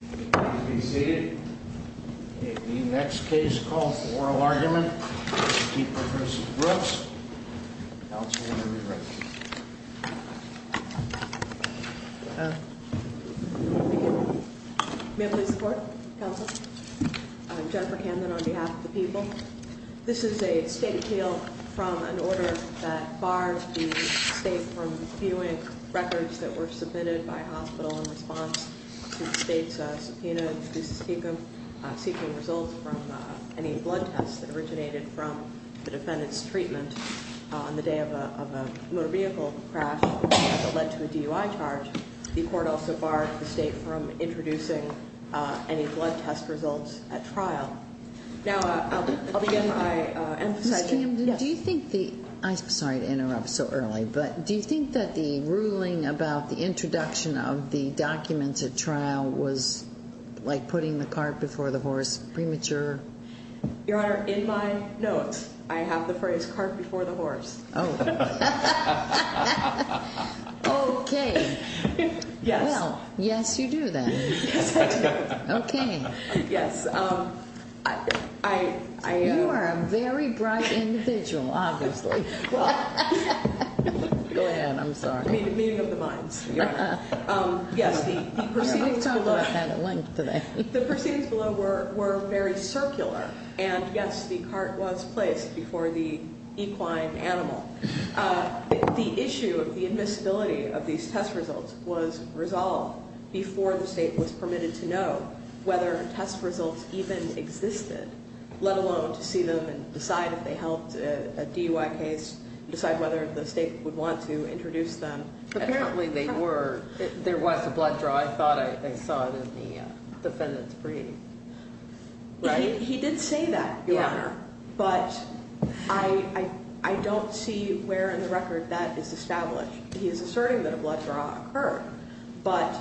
May I please have the floor, counsel? I'm Jennifer Camden on behalf of the people. This is a state appeal from an order that barred the state from viewing records that were submitted by hospital in response to the state's subpoena seeking results from any blood tests that originated from the defendant's treatment on the day of a motor vehicle crash that led to a DUI charge. The court also barred the state from introducing any blood test results at trial. Now I'll begin by emphasizing Ms. Camden, do you think the, sorry to interrupt so early, but do you think that the ruling about the introduction of the documents at trial was like putting the cart before the horse, premature? Your Honor, in my notes I have the phrase cart before the horse. Oh. Okay. Yes. Well, yes you do then. Yes I do. Okay. Yes. You are a very bright individual, obviously. Go ahead, I'm sorry. Meeting of the minds. Yes, the proceedings below were very circular and yes the cart was placed before the equine animal. The issue of the invincibility of these test results was resolved before the state was permitted to know whether test results even existed, let alone to see them and decide if they helped a DUI case, decide whether the state would want to introduce them. Apparently they were, there was a blood draw. I thought I saw it in the defendant's brief. He did say that, Your Honor, but I don't see where in the record that is established. He is asserting that a blood draw occurred, but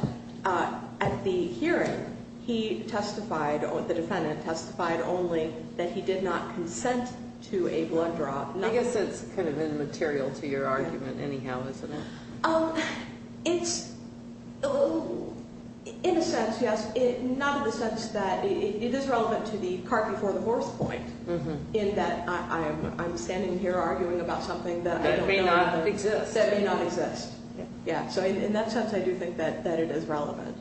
at the hearing he testified, the defendant testified only that he did not consent to a blood draw. I guess it's kind of immaterial to your argument anyhow, isn't it? It's, in a sense, yes. Not in the sense that, it is relevant to the cart before the horse point in that I'm standing here arguing about something that may not exist. That may not exist. Yeah, so in that sense I do think that it is relevant.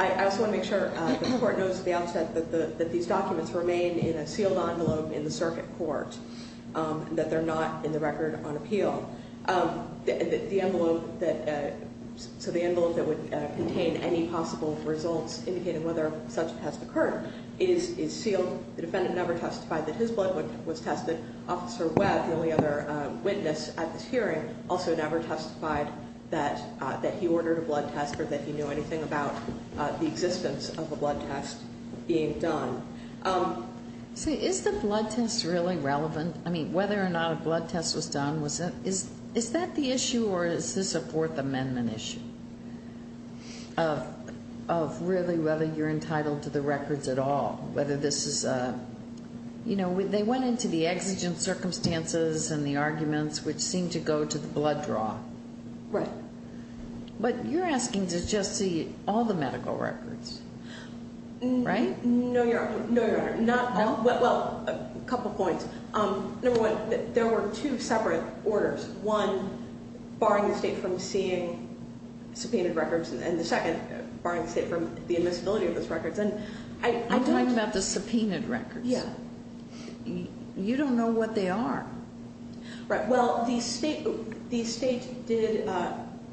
I also want to make sure the court knows at the outset that these documents remain in a sealed envelope in the circuit court, that they're not in the record on appeal. The envelope that, so the envelope that would contain any possible results indicating whether such a test occurred is sealed. The defendant never testified that his blood was tested. Officer Webb, the only other witness at this hearing, also never testified that he ordered a blood test or that he knew anything about the existence of a blood test being done. So is the blood test really relevant? I mean, whether or not a blood test was done, is that the issue or is this a Fourth Amendment issue of really whether you're entitled to the records at all? Whether this is a, you know, they went into the exigent circumstances and the arguments which seem to go to the blood draw. Right. But you're asking to just see all the medical records, right? No, Your Honor. No, Your Honor. Well, a couple points. Number one, there were two separate orders. One, barring the state from seeing subpoenaed records and the second, barring the state from the admissibility of those records. I'm talking about the subpoenaed records. Yeah. You don't know what they are. Right. Well, the state did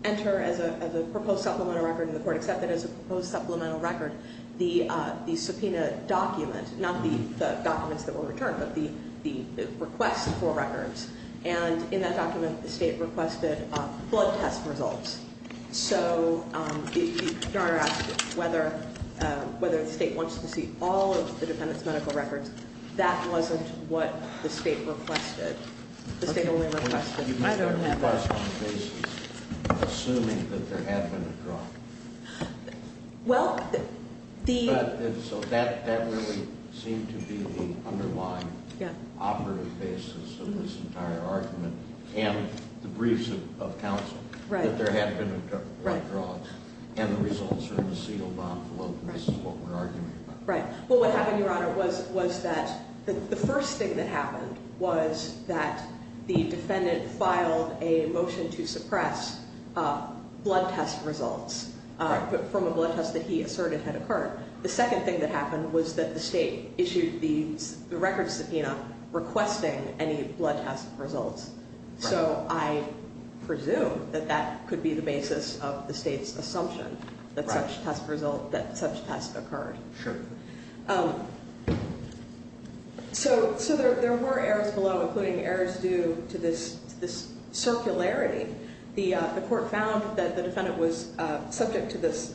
enter as a proposed supplemental record and the court accepted as a proposed supplemental record the subpoenaed document, not the documents that were returned, but the request for records. And in that document, the state requested blood test results. So, Your Honor asked whether the state wants to see all of the defendant's medical records. That wasn't what the state requested. The state only requested... I don't have that. You made a request on the basis of assuming that there had been a draw. Well, the... So that really seemed to be the underlying operative basis of this entire argument and the briefs of counsel. Right. That there had been a draw and the results are in a sealed envelope, and this is what we're arguing about. Right. Well, what happened, Your Honor, was that the first thing that happened was that the defendant filed a motion to suppress blood test results from a blood test that he asserted had occurred. The second thing that happened was that the state issued the record subpoena not requesting any blood test results. So, I presume that that could be the basis of the state's assumption that such test occurred. Sure. So, there were errors below, including errors due to this circularity. The court found that the defendant was subject to this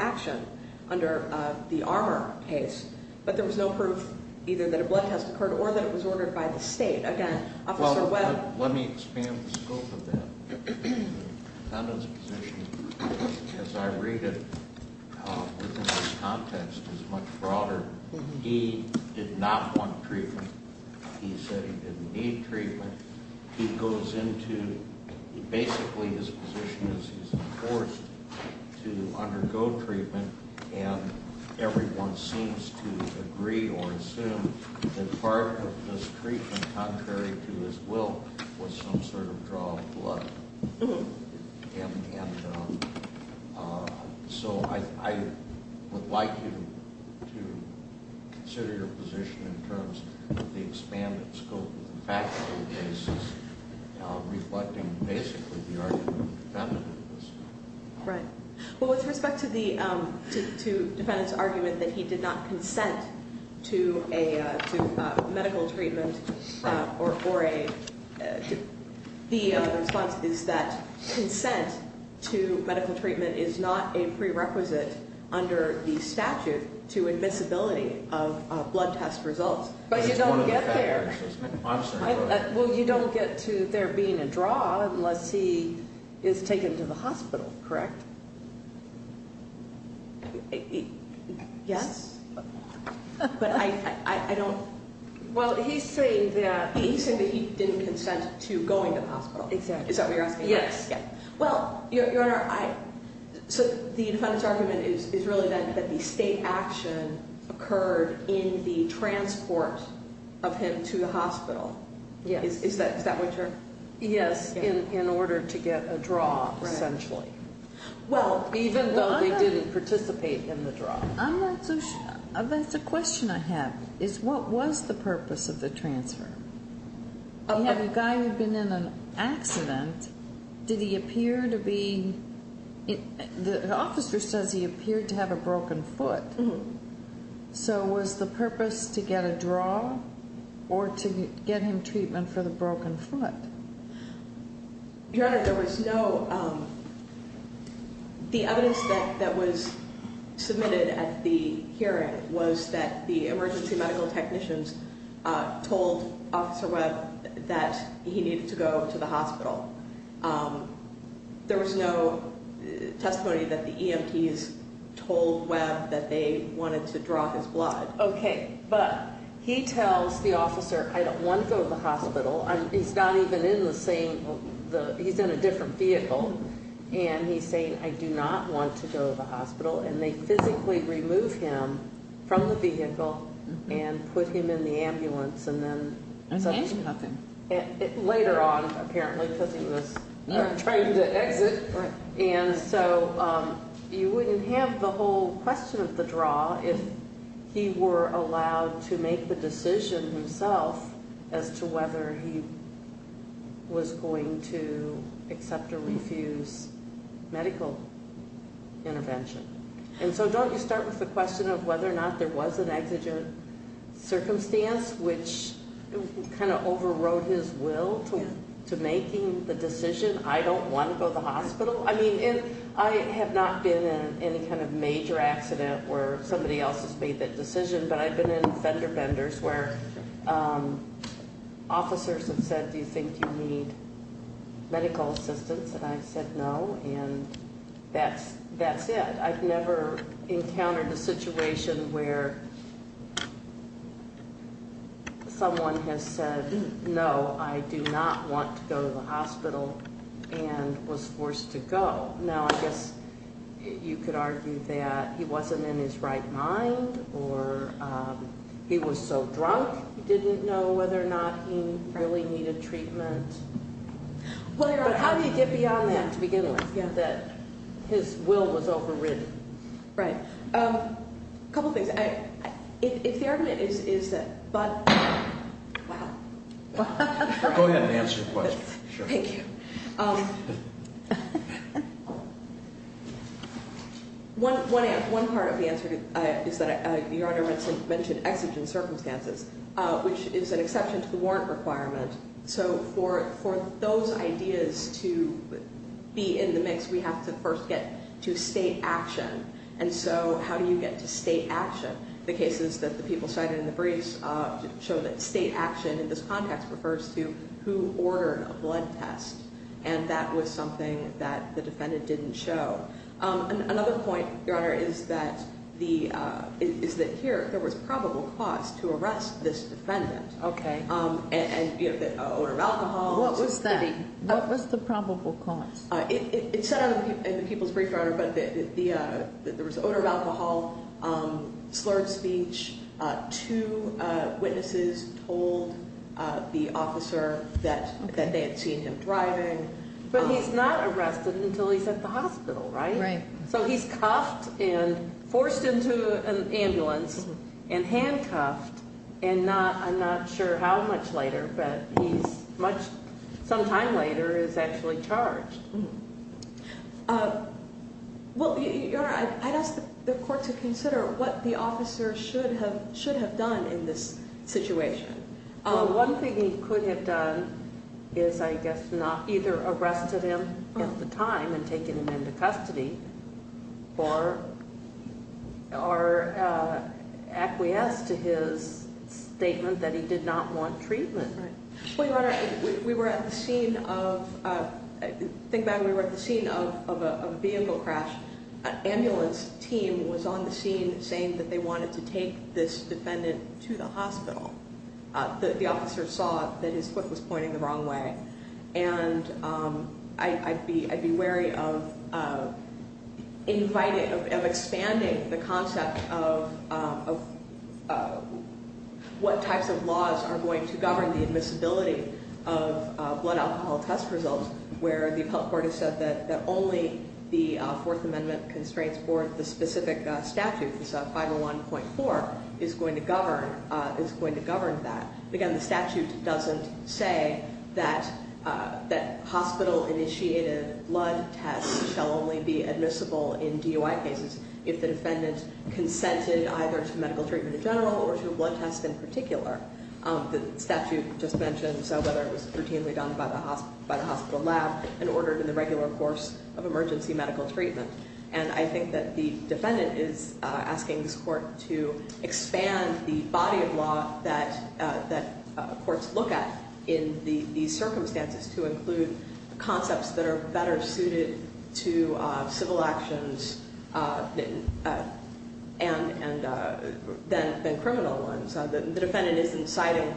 action under the Armour case, but there was no proof either that a blood test occurred or that it was ordered by the state. Again, Officer Webb... Well, let me expand the scope of that. The defendant's position, as I read it, within this context, is much broader. He did not want treatment. He said he didn't need treatment. He goes into... Basically, his position is he's forced to undergo treatment, and everyone seems to agree or assume that part of this treatment, contrary to his will, was some sort of draw of blood. And so, I would like you to consider your position in terms of the expanded scope of the factual cases, reflecting basically the argument of the defendant in this case. Right. Well, with respect to the defendant's argument that he did not consent to medical treatment, the response is that consent to medical treatment is not a prerequisite under the statute to the admissibility of blood test results, but you don't get there. Well, you don't get to there being a draw unless he is taken to the hospital, correct? Yes, but I don't... Well, he's saying that he didn't consent to going to the hospital. Exactly. Is that what in the transport of him to the hospital? Yes. Is that what you're... Yes, in order to get a draw, essentially. Well, even though they didn't participate in the draw. I'm not so sure. That's a question I have, is what was the purpose of the transfer? You have a guy who'd been in an accident. Did he appear to be... The officer says he appeared to have a broken foot, so was the purpose to get a draw or to get him treatment for the broken foot? Your Honor, there was no... The evidence that was submitted at the hearing was that the emergency medical technicians told Officer Webb that he needed to go to the hospital. There was no testimony that the EMTs told Webb that they wanted to draw his blood. Okay, but he tells the officer, I don't want to go to the hospital. He's not even in the same... He's in a different vehicle, and he's saying, I do not want to go to the hospital, and they physically remove him from the vehicle and put him in the ambulance, and then... And so, you wouldn't have the whole question of the draw if he were allowed to make the decision himself as to whether he was going to accept or refuse medical intervention. And so, don't you start with the question of whether or not there was an exigent circumstance which kind of overrode his will to making the decision, I don't want to go to the hospital? I mean, I have not been in any kind of major accident where somebody else has made that decision, but I've been in fender benders where officers have said, do you think you need medical assistance? And I've said no, and that's it. I've never encountered a situation where someone has said, no, I do not want to go to the hospital, and was forced to go. Now, I guess you could argue that he wasn't in his right mind, or he was so drunk, he didn't know whether or not he really needed treatment. But how do you get beyond that to begin with? Yeah, that his will was overridden. Right. A couple things. If the argument is that, but, wow. Go ahead and answer the question. Thank you. One part of the answer is that Your Honor mentioned exigent circumstances, which is an exception to the warrant requirement. So for those ideas to be in the mix, we have to first get to state action. And so how do you get to state action? The cases that the people cited in the briefs show that state action in this context refers to who ordered a blood test, and that was something that the defendant didn't show. Another point, Your Honor, is that here, there was probable cause to arrest this defendant. Okay. And, you know, the odor of alcohol. What was that? What was the probable cause? It said in the people's brief, Your Honor, that there was odor of alcohol, slurred speech, two witnesses told the officer that they had seen him driving. But he's not arrested until he's at the hospital, right? Right. So he's cuffed and forced into an ambulance and handcuffed, and not, I'm not sure how much later, but he's much, sometime later, is actually charged. Well, Your Honor, I'd ask the court to consider what the officer should have done in this situation. Well, one thing he could have done is, I guess, not either arrested him at the time and taken him into custody, or acquiesced to his statement that he did not want treatment. Right. Well, Your Honor, we were at the scene of, think back, we were at the scene of a vehicle crash. An ambulance team was on the scene saying that they wanted to take this defendant to the hospital. The officer saw that his foot was pointing the wrong way. And I'd be wary of inviting, of expanding the concept of what types of laws are going to govern the admissibility of blood alcohol test results, where the appellate court has said that only the Fourth Amendment constraints for the specific statute, which is 501.4, is going to govern, is going to govern that. Again, the statute doesn't say that hospital-initiated blood tests shall only be admissible in DUI cases if the defendant consented either to medical treatment in general or to a blood test in particular. The statute just mentioned so, whether it was routinely done by the hospital lab and ordered in the court to expand the body of law that courts look at in these circumstances to include concepts that are better suited to civil actions than criminal ones. The defendant isn't citing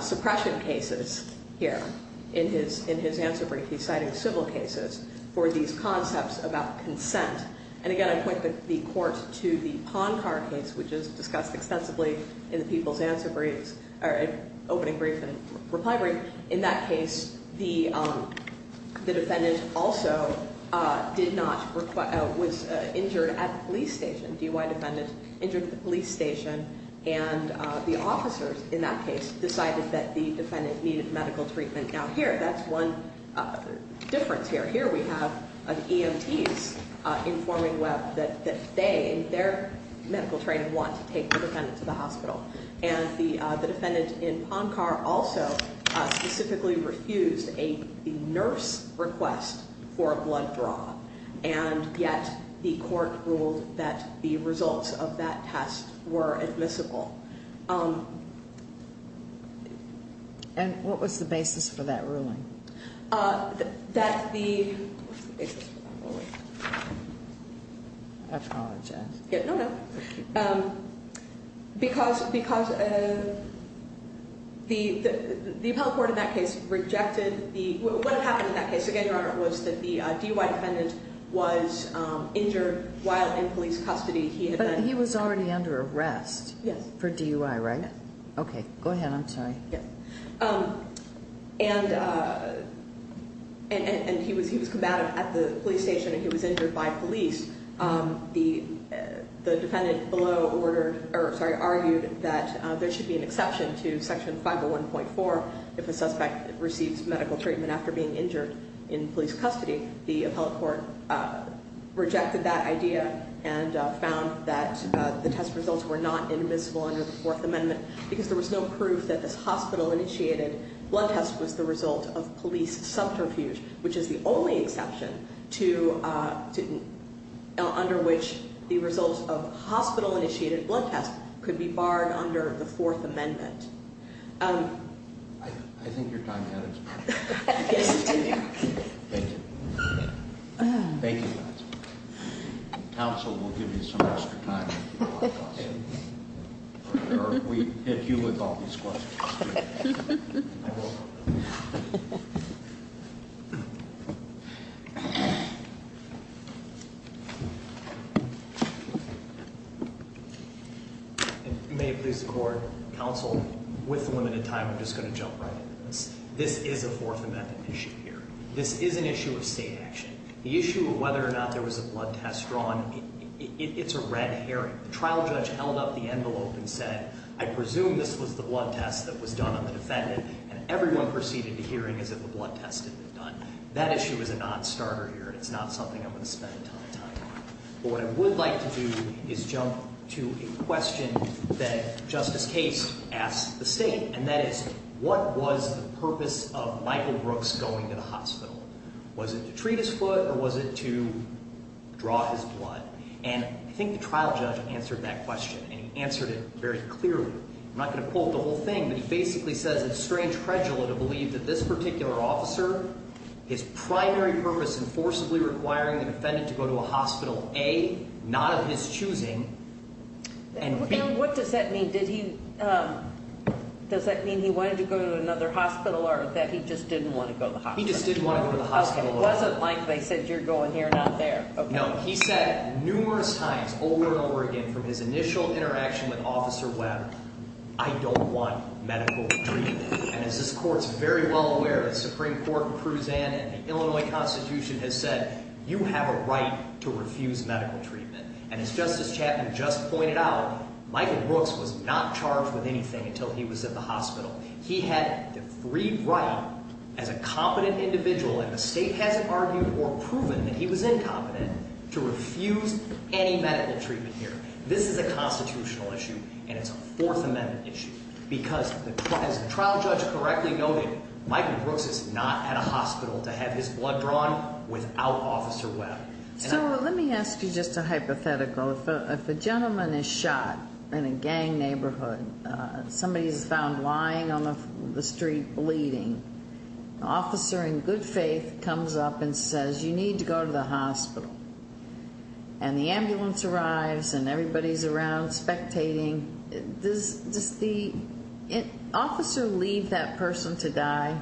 suppression cases here in his answer brief. He's citing civil cases for these concepts about consent. And again, I point the court to the Poncar case, which is discussed extensively in the People's Answer Briefs, or Opening Brief and Reply Brief. In that case, the defendant also did not, was injured at the police station, DUI defendant injured at the police station, and the officers in that case decided that the defendant needed medical treatment. Now here, that's one difference here. Here we have an EMT's informing web that they, in their medical training, want to take the defendant to the hospital. And the defendant in Poncar also specifically refused a nurse request for a blood draw, and yet the court ruled that the results of that test were admissible. And what was the basis for that ruling? That the, what was the basis for that ruling? I apologize. No, no. Because the appellate court in that case rejected the, what had happened in that case, again, Your Honor, was that the DUI defendant was injured while in police custody. He had been. But he was already under arrest. Yes. For DUI, right? Okay. Go ahead. I'm sorry. And he was combative at the police station, and he was injured by police. The defendant below ordered, or sorry, argued that there should be an exception to Section 501.4 if a suspect receives medical treatment after being injured in police custody. The appellate court rejected that idea and found that the test results were not admissible under the Fourth Amendment because there was no proof that this hospital-initiated blood test was the result of police subterfuge, which is the only exception to, under which the results of hospital-initiated blood tests could be barred under the Fourth Amendment. I think your time's up. Thank you. Thank you, Your Honor. May it please the Court, counsel, with the limited time, I'm just going to jump right into this. This is a Fourth Amendment issue here. This is an issue of state action. The issue of whether or not there was a blood test drawn, it's a red herring. The trial judge held up the envelope and said, I presume this was the blood test that was done on the day that everyone proceeded to hearing as if the blood test had been done. That issue is a non-starter here. It's not something I'm going to spend a ton of time on. But what I would like to do is jump to a question that Justice Case asked the State, and that is, what was the purpose of Michael Brooks going to the hospital? Was it to treat his foot or was it to draw his blood? And I think the trial judge answered that question, and he answered it very clearly. I'm not going to quote the whole thing, but he basically says it's strange credula to believe that this particular officer, his primary purpose is forcibly requiring the defendant to go to a hospital, A, not of his choosing, and B. And what does that mean? Does that mean he wanted to go to another hospital or that he just didn't want to go to the hospital? He just didn't want to go to the hospital. Okay. It wasn't like they said you're going here, not there. Okay. No. He said numerous times over and over again from his initial interaction with Officer Webb, I don't want to refuse medical treatment. And as this Court is very well aware, the Supreme Court in Cruzan and the Illinois Constitution has said you have a right to refuse medical treatment. And as Justice Chapman just pointed out, Michael Brooks was not charged with anything until he was at the hospital. He had the free right as a competent individual, and the State hasn't argued or proven that he was incompetent, to refuse any medical treatment here. This is a constitutional issue, and it's a Fourth Amendment issue, because as the trial judge correctly noted, Michael Brooks is not at a hospital to have his blood drawn without Officer Webb. So let me ask you just a hypothetical. If a gentleman is shot in a gang neighborhood, somebody is found lying on the street bleeding, an officer in good faith comes up and says you need to go to the hospital. And the ambulance arrives, and everybody's around spectating. Does the officer leave that person to die?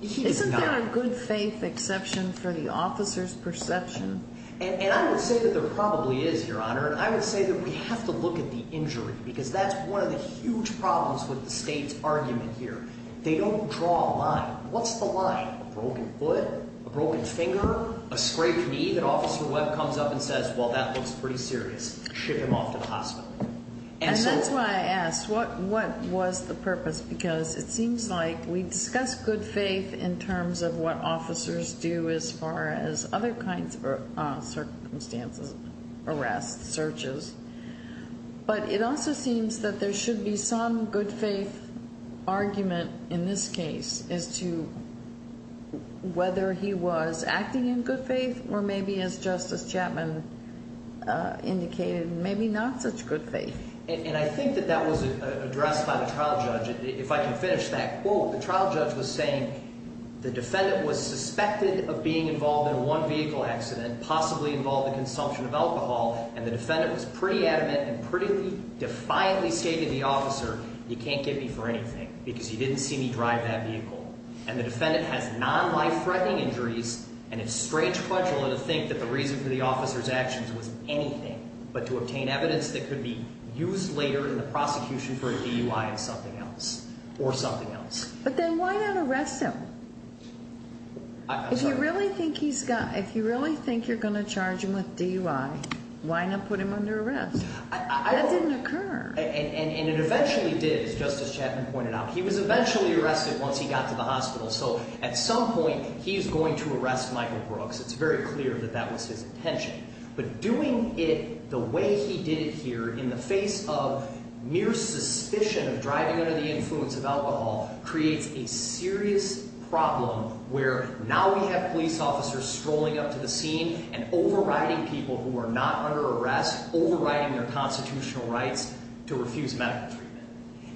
He does not. Isn't there a good faith exception for the officer's perception? And I would say that there probably is, Your Honor, and I would say that we have to look at the injury, because that's one of the huge problems with the State's argument here. They don't draw a line. What's the line? A broken foot? A scraped knee that Officer Webb comes up and says, well, that looks pretty serious. Ship him off to the hospital. And that's why I asked, what was the purpose? Because it seems like we discussed good faith in terms of what officers do as far as other kinds of circumstances, arrests, searches, but it also seems that there should be some good faith argument in this case as to whether he was acting in good faith or maybe, as Justice Chapman indicated, maybe not such good faith. And I think that that was addressed by the trial judge. If I can finish that quote, the trial judge was saying the defendant was suspected of being involved in one vehicle accident, possibly involved in consumption of alcohol, and the defendant was pretty adamant and pretty defiantly saying to the officer, you can't get me for driving that vehicle. And the defendant has non-life-threatening injuries, and it's strange credula to think that the reason for the officer's actions was anything but to obtain evidence that could be used later in the prosecution for a DUI and something else, or something else. But then why not arrest him? If you really think he's got, if you really think you're going to charge him with DUI, why not put him under arrest? That didn't occur. And it eventually did, as Justice Chapman pointed out. He was eventually arrested once he got to the hospital. So at some point, he's going to arrest Michael Brooks. It's very clear that that was his intention. But doing it the way he did it here in the face of mere suspicion of driving under the influence of alcohol creates a serious problem where now we have police officers strolling up to the scene and overriding people who are not under their own rights to refuse medical treatment.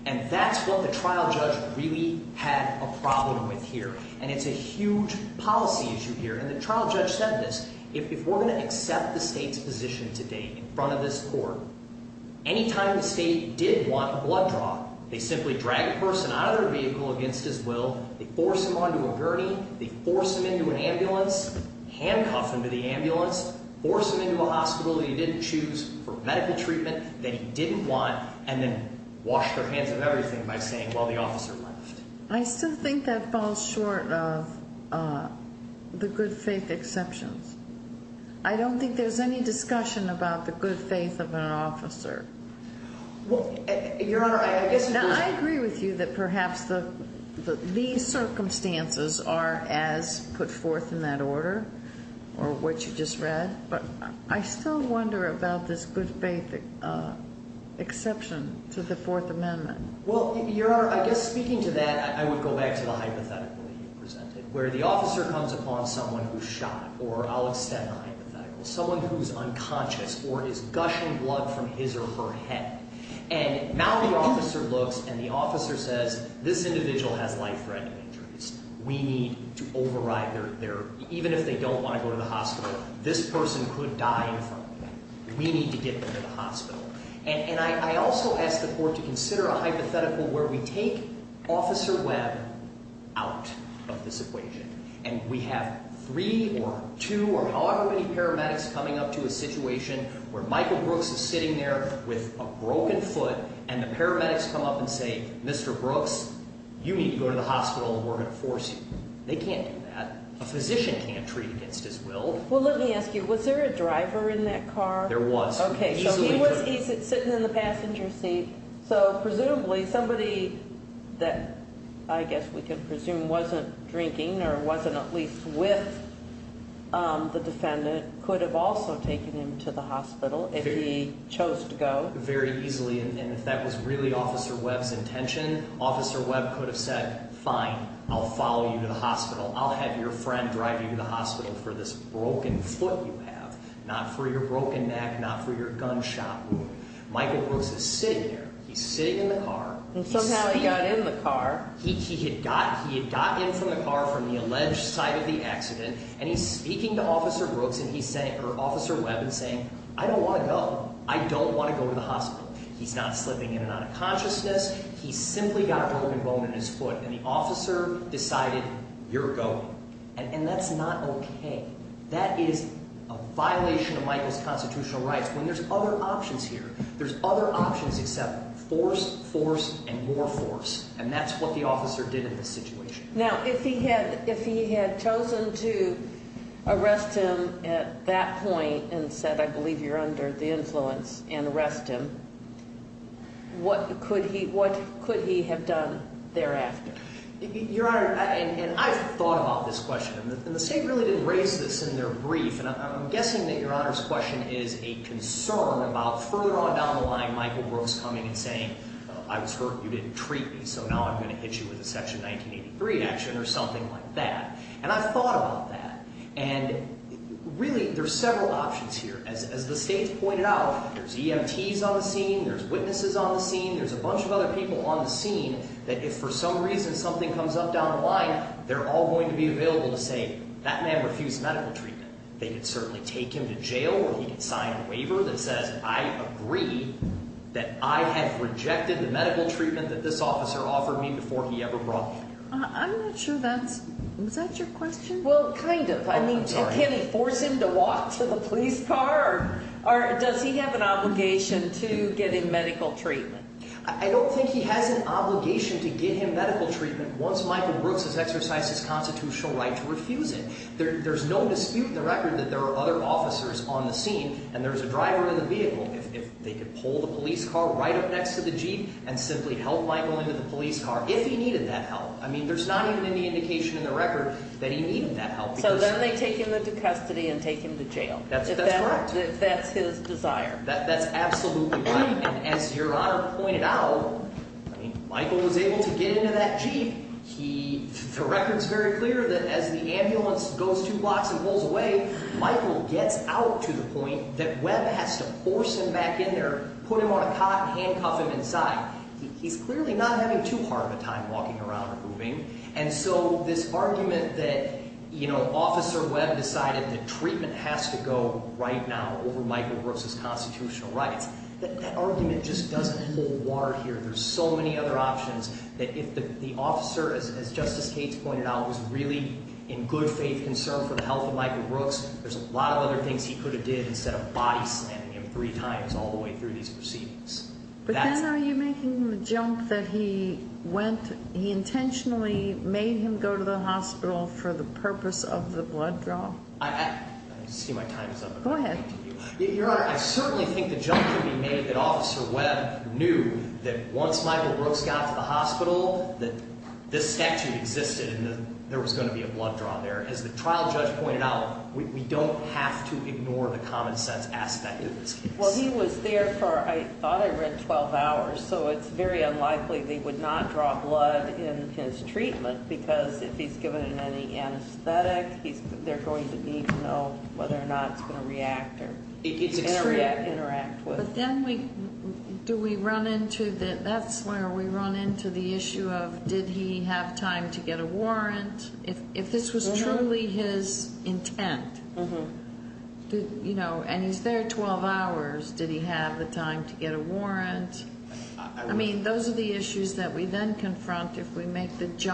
And that's what the trial judge really had a problem with here. And it's a huge policy issue here. And the trial judge said this, if we're going to accept the state's position today in front of this court, any time the state did want a blood draw, they simply drag a person out of their vehicle against his will, they force him onto a gurney, they force him into an ambulance, handcuff him to the gurney that he didn't want, and then wash their hands of everything by saying, well, the officer left. I still think that falls short of the good faith exceptions. I don't think there's any discussion about the good faith of an officer. Well, Your Honor, I guess you could... Now, I agree with you that perhaps these circumstances are as put forth in that order or what you just read, but I still wonder about this good faith exception to the Fourth Amendment. Well, Your Honor, I guess speaking to that, I would go back to the hypothetical that you presented, where the officer comes upon someone who's shot, or I'll extend the hypothetical, someone who's unconscious or is gushing blood from his or her head. And now the officer looks and the officer says, this individual has life-threatening injuries. We need to this person could die in front of me. We need to get them to the hospital. And I also ask the Court to consider a hypothetical where we take Officer Webb out of this equation and we have three or two or however many paramedics coming up to a situation where Michael Brooks is sitting there with a broken foot and the paramedics come up and say, Mr. Brooks, you need to go to the hospital and we're going to force you. They can't do that. A physician can't treat against his will. Well, let me ask you, was there a driver in that car? There was. Okay. So he was sitting in the passenger seat. So presumably somebody that I guess we can presume wasn't drinking or wasn't at least with the defendant could have also taken him to the hospital if he chose to go. Very easily. And if that was really Officer Webb's intention, Officer Webb could have said, fine, I'll follow you to the hospital. I'll have your friend drive you to the hospital for this broken foot you have, not for your broken neck, not for your gunshot wound. Michael Brooks is sitting here. He's sitting in the car. And somehow he got in the car. He had got in from the car from the alleged site of the accident and he's speaking to Officer Brooks or Officer Webb and saying, I don't want to go. I don't want to go to the hospital. He's not slipping in and out of consciousness. He's simply got a broken bone in his foot. And the officer decided, you're going. And that's not okay. That is a violation of Michael's constitutional rights when there's other options here. There's other options except force, force, and more force. And that's what the officer did in this situation. Now, if he had chosen to arrest him at that point and said, I believe you're under the And I've thought about this question. And the State really didn't raise this in their brief. And I'm guessing that Your Honor's question is a concern about further on down the line Michael Brooks coming and saying, I was hurt and you didn't treat me, so now I'm going to hit you with a Section 1983 action or something like that. And I've thought about that. And really there's several options here. As the State's pointed out, there's EMTs on the scene. There's witnesses on the scene. There's a bunch of other people on the scene. And if for some reason something comes up down the line, they're all going to be available to say, that man refused medical treatment. They could certainly take him to jail or he could sign a waiver that says, I agree that I have rejected the medical treatment that this officer offered me before he ever brought me here. I'm not sure that's, was that your question? Well, kind of. I mean, can he force him to walk to the police car? Or does he have an obligation to get him medical treatment? I don't think he has an obligation to get him medical treatment once Michael Brooks has exercised his constitutional right to refuse it. There's no dispute in the record that there are other officers on the scene and there's a driver in the vehicle. If they could pull the police car right up next to the jeep and simply help Michael into the police car, if he needed that help. I mean, there's not even any indication in the record that he needed that help. So then they take him into custody and take him to jail. That's correct. If that's his desire. That's absolutely right. And as Your Honor pointed out, I mean, Michael was able to get into that jeep. He, the record's very clear that as the ambulance goes two blocks and pulls away, Michael gets out to the point that Webb has to force him back in there, put him on a cot and handcuff him inside. He's clearly not having too hard of a time walking around or moving. And so this argument that, you know, Officer Webb decided that Michael Brooks has constitutional rights, that argument just doesn't hold water here. There's so many other options that if the officer, as Justice Cates pointed out, was really in good faith concern for the health of Michael Brooks, there's a lot of other things he could have did instead of body slamming him three times all the way through these proceedings. But then are you making the jump that he went, he intentionally made him go to the hospital for the purpose of the blood draw? I see my time is up. Go ahead. Your Honor, I certainly think the jump could be made that Officer Webb knew that once Michael Brooks got to the hospital, that this statute existed and there was going to be a blood draw there. As the trial judge pointed out, we don't have to ignore the common sense aspect of this case. Well, he was there for, I thought I read 12 hours, so it's very unlikely they would not draw blood in his treatment because if he's given any anesthetic, they're going to need to know whether or not it's going to react or interact with. But then do we run into the, that's where we run into the issue of did he have time to get a warrant? If this was truly his intent, and he's there 12 hours, did he have the time to get a warrant? I mean, those are the issues that we then confront if we make the case.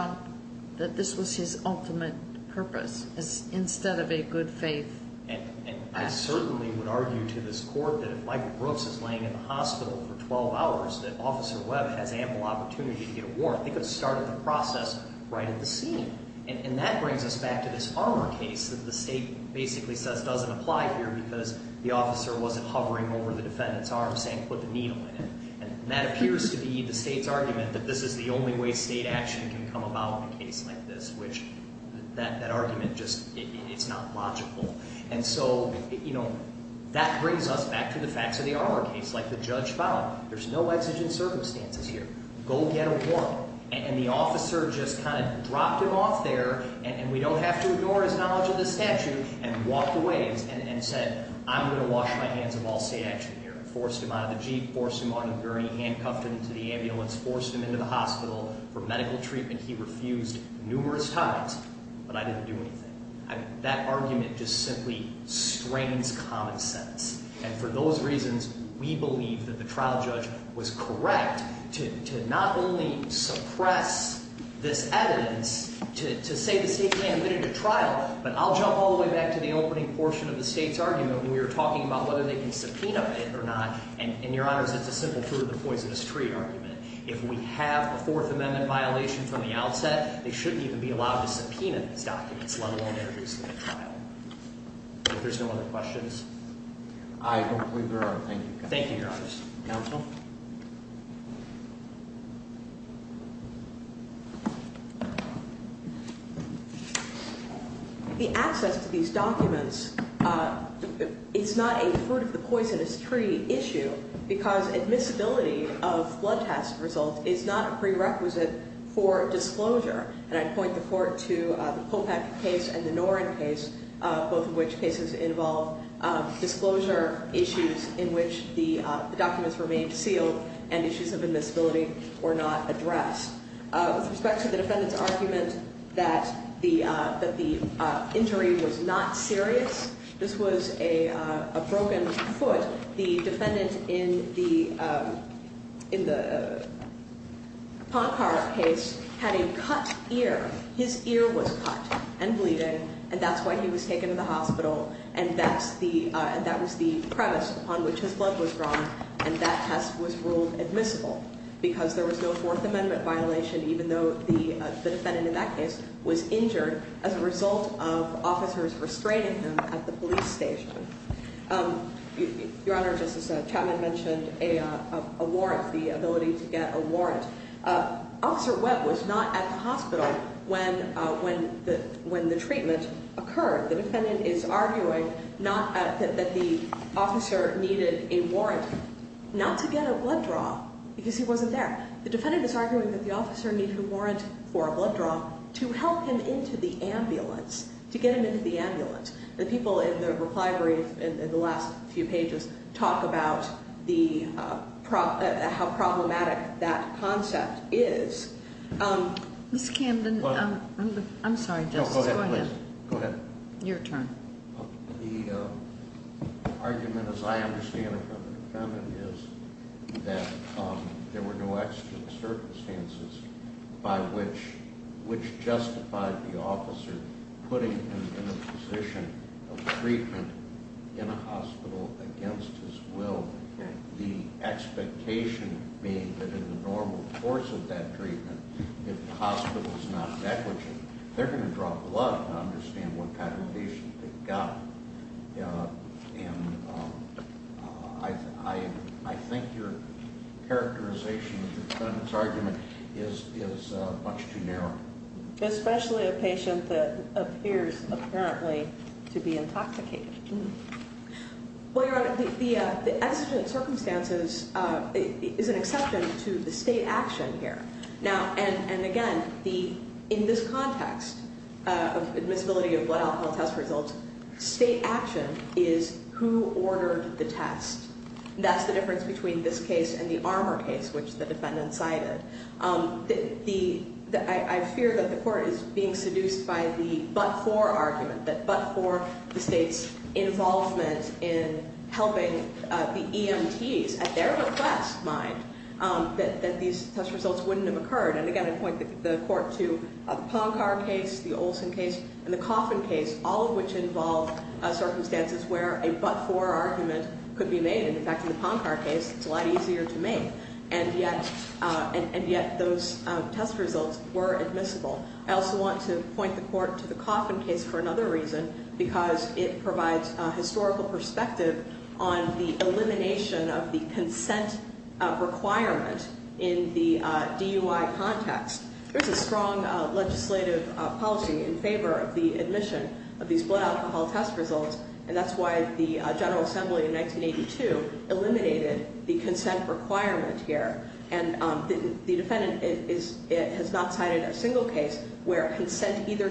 And I certainly would argue to this Court that if Michael Brooks is laying in the hospital for 12 hours, that Officer Webb has ample opportunity to get a warrant. They could have started the process right at the scene. And that brings us back to this Armour case that the State basically says doesn't apply here because the officer wasn't hovering over the defendant's arm saying put the needle in it. And that appears to be the State's argument that this is the only way State action can come about in a case like this, which that And so, you know, that brings us back to the facts of the Armour case. Like the judge found there's no exigent circumstances here. Go get a warrant. And the officer just kind of dropped him off there, and we don't have to ignore his knowledge of the statute, and walked away and said I'm going to wash my hands of all State action here. Forced him out of the Jeep, forced him on a gurney, handcuffed him to the ambulance, forced him into the hospital for medical treatment he refused numerous times, but I didn't do anything. I mean, that argument just simply strains common sense. And for those reasons, we believe that the trial judge was correct to not only suppress this evidence to say the State can admit it to trial, but I'll jump all the way back to the opening portion of the State's argument when we were talking about whether they can subpoena it or not. And, Your Honors, it's a simple fruit of the poisonous tree argument. If we have a Fourth Amendment violation from the outset, they shouldn't even be allowed to subpoena these documents, let alone introduce them to trial. If there's no other questions? I don't believe there are. Thank you. Thank you, Your Honors. Counsel? The access to these documents is not a fruit of the poisonous tree issue because admissibility of blood test results is not a prerequisite for disclosure. And I'd point the Court to the Kopeck case and the Norrin case, both of which cases involve disclosure issues in which the documents remained sealed and issues of admissibility were not addressed. With respect to the defendant's argument that the injury was not serious, this was a broken foot. The defendant in the Poncar case had a cut ear. His ear was cut and bleeding, and that's why he was taken to the hospital, and that was the premise upon which his blood was drawn, and that test was ruled admissible because there was no Fourth Amendment violation even though the defendant in that case was injured as a result of officers restraining him at the police station. Your Honor, Justice Chapman mentioned a warrant, the ability to get a warrant. Officer Webb was not at the hospital when the treatment occurred. The defendant is arguing that the officer needed a warrant not to get a blood draw because he wasn't there. The defendant is arguing that the officer needed a warrant for a blood The people in the reply brief in the last few pages talk about how problematic that concept is. Ms. Camden, I'm sorry, Justice, go ahead. No, go ahead, please. Go ahead. Your turn. The argument, as I understand it from the defendant, is that there were no external circumstances by which, which justified the officer putting him in a position of treatment in a hospital against his will. The expectation being that in the normal course of that treatment, if the hospital is not negligent, they're going to draw blood and understand what kind of patient they've got. And I think your characterization of the defendant's argument is much too narrow. Especially a patient that appears apparently to be intoxicated. Well, Your Honor, the exigent circumstances is an exception to the state action here. Now, and again, in this context of admissibility of blood alcohol test results, state action is who ordered the test. That's the difference between this case and the Armour case, which the defendant cited. I fear that the Court is being seduced by the but-for argument, that but-for the state's involvement in helping the EMTs at their request, mind, that these test results wouldn't have occurred. And again, I point the Court to the Poncar case, the Olson case, and the Coffin case, all of which involve circumstances where a but-for argument could be made. In fact, in the Poncar case, it's a lot easier to make. And yet, and yet those test results were admissible. I also want to point the Court to the Coffin case for another reason, because it provides a historical perspective on the elimination of the consent requirement in the DUI context. There's a strong legislative policy in favor of the admission of these blood alcohol test results, and that's why the General Assembly in 1982 eliminated the consent requirement here. And the defendant has not cited a single case where consent either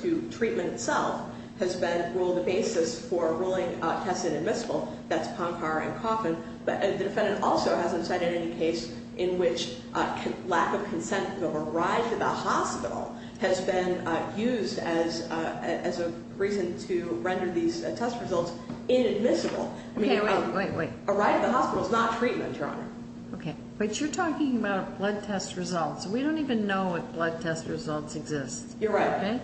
to treatment itself has been ruled the basis for ruling tests inadmissible. That's Poncar and Coffin. But the defendant also hasn't cited any case in which lack of consent of a ride to the hospital has been used as a reason to render these test results inadmissible. Okay, wait, wait, wait. A ride to the hospital is not treatment, Your Honor. Okay, but you're talking about blood test results. We don't even know if blood test results exist. You're right. Okay?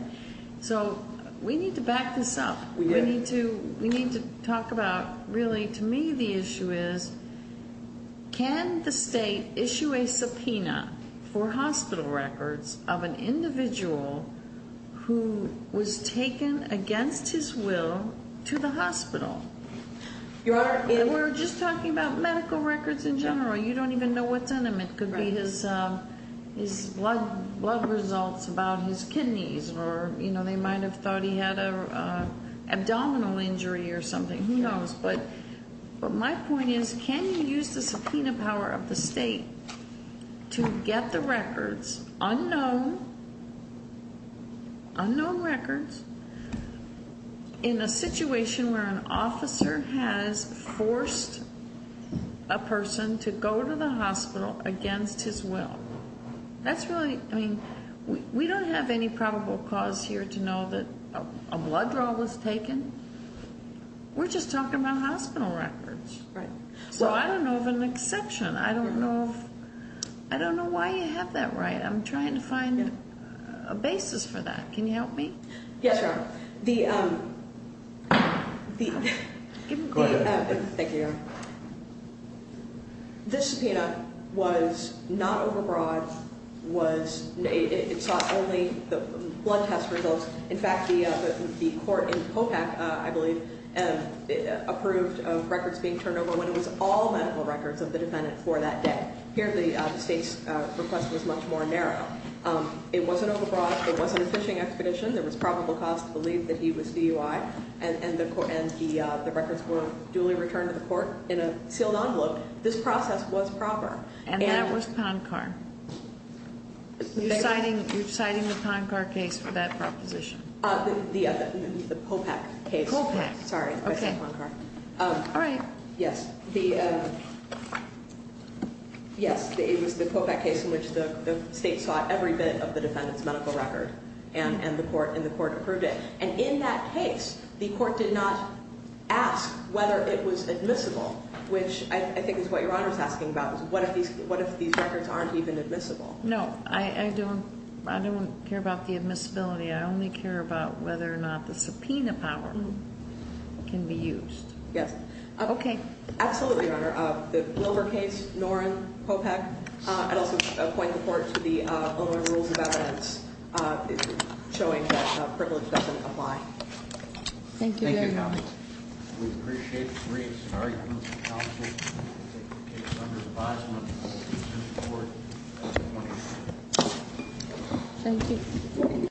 So we need to back this up. We need to talk about, really, to me the issue is can the state issue a subpoena for hospital records of an individual who was taken against his will to the hospital? Your Honor, it... We're just talking about medical records in general. You don't even know what's in It could be his blood results about his kidneys or they might have thought he had an abdominal injury or something. Who knows? But my point is can you use the subpoena power of the state to get the records, unknown records, in a situation where an officer has forced a person to go to the hospital against his will? That's really, I mean, we don't have any probable cause here to know that a blood draw was taken. We're just talking about hospital records. Right. So I don't know of an exception. I don't know if, I don't know why you have that right. I'm trying to find a basis for that. Can you help me? Yes, Your Honor. The, the... Go ahead. Thank you, Your Honor. This subpoena was not over-broad, was, it sought only the blood test results. In fact, the, the court in Copac, I believe, approved of records being turned over when it was all medical records of the defendant for that day. Here the state's request was much more narrow. It wasn't over-broad, it wasn't a fishing expedition. There was duly returned to the court in a sealed envelope. This process was proper. And that was Poncar. You're citing, you're citing the Poncar case for that proposition. The, the Copac case. Copac. Sorry, I said Poncar. All right. Yes. The, yes, it was the Copac case in which the state sought every bit of the defendant's medical record, and, and the court, and the court approved it. And in that case, the court did not ask whether it was admissible, which I, I think is what Your Honor's asking about, is what if these, what if these records aren't even admissible? No. I, I don't, I don't care about the admissibility. I only care about whether or not the subpoena power can be used. Yes. Okay. Absolutely, Your Honor. The Wilbur case, Norrin, Copac, I'd also point the court to the Illinois Rules of Evidence showing that privilege doesn't apply. Thank you very much. Thank you, counsel. We appreciate the briefs. All right. Thank you, counsel. Thank you.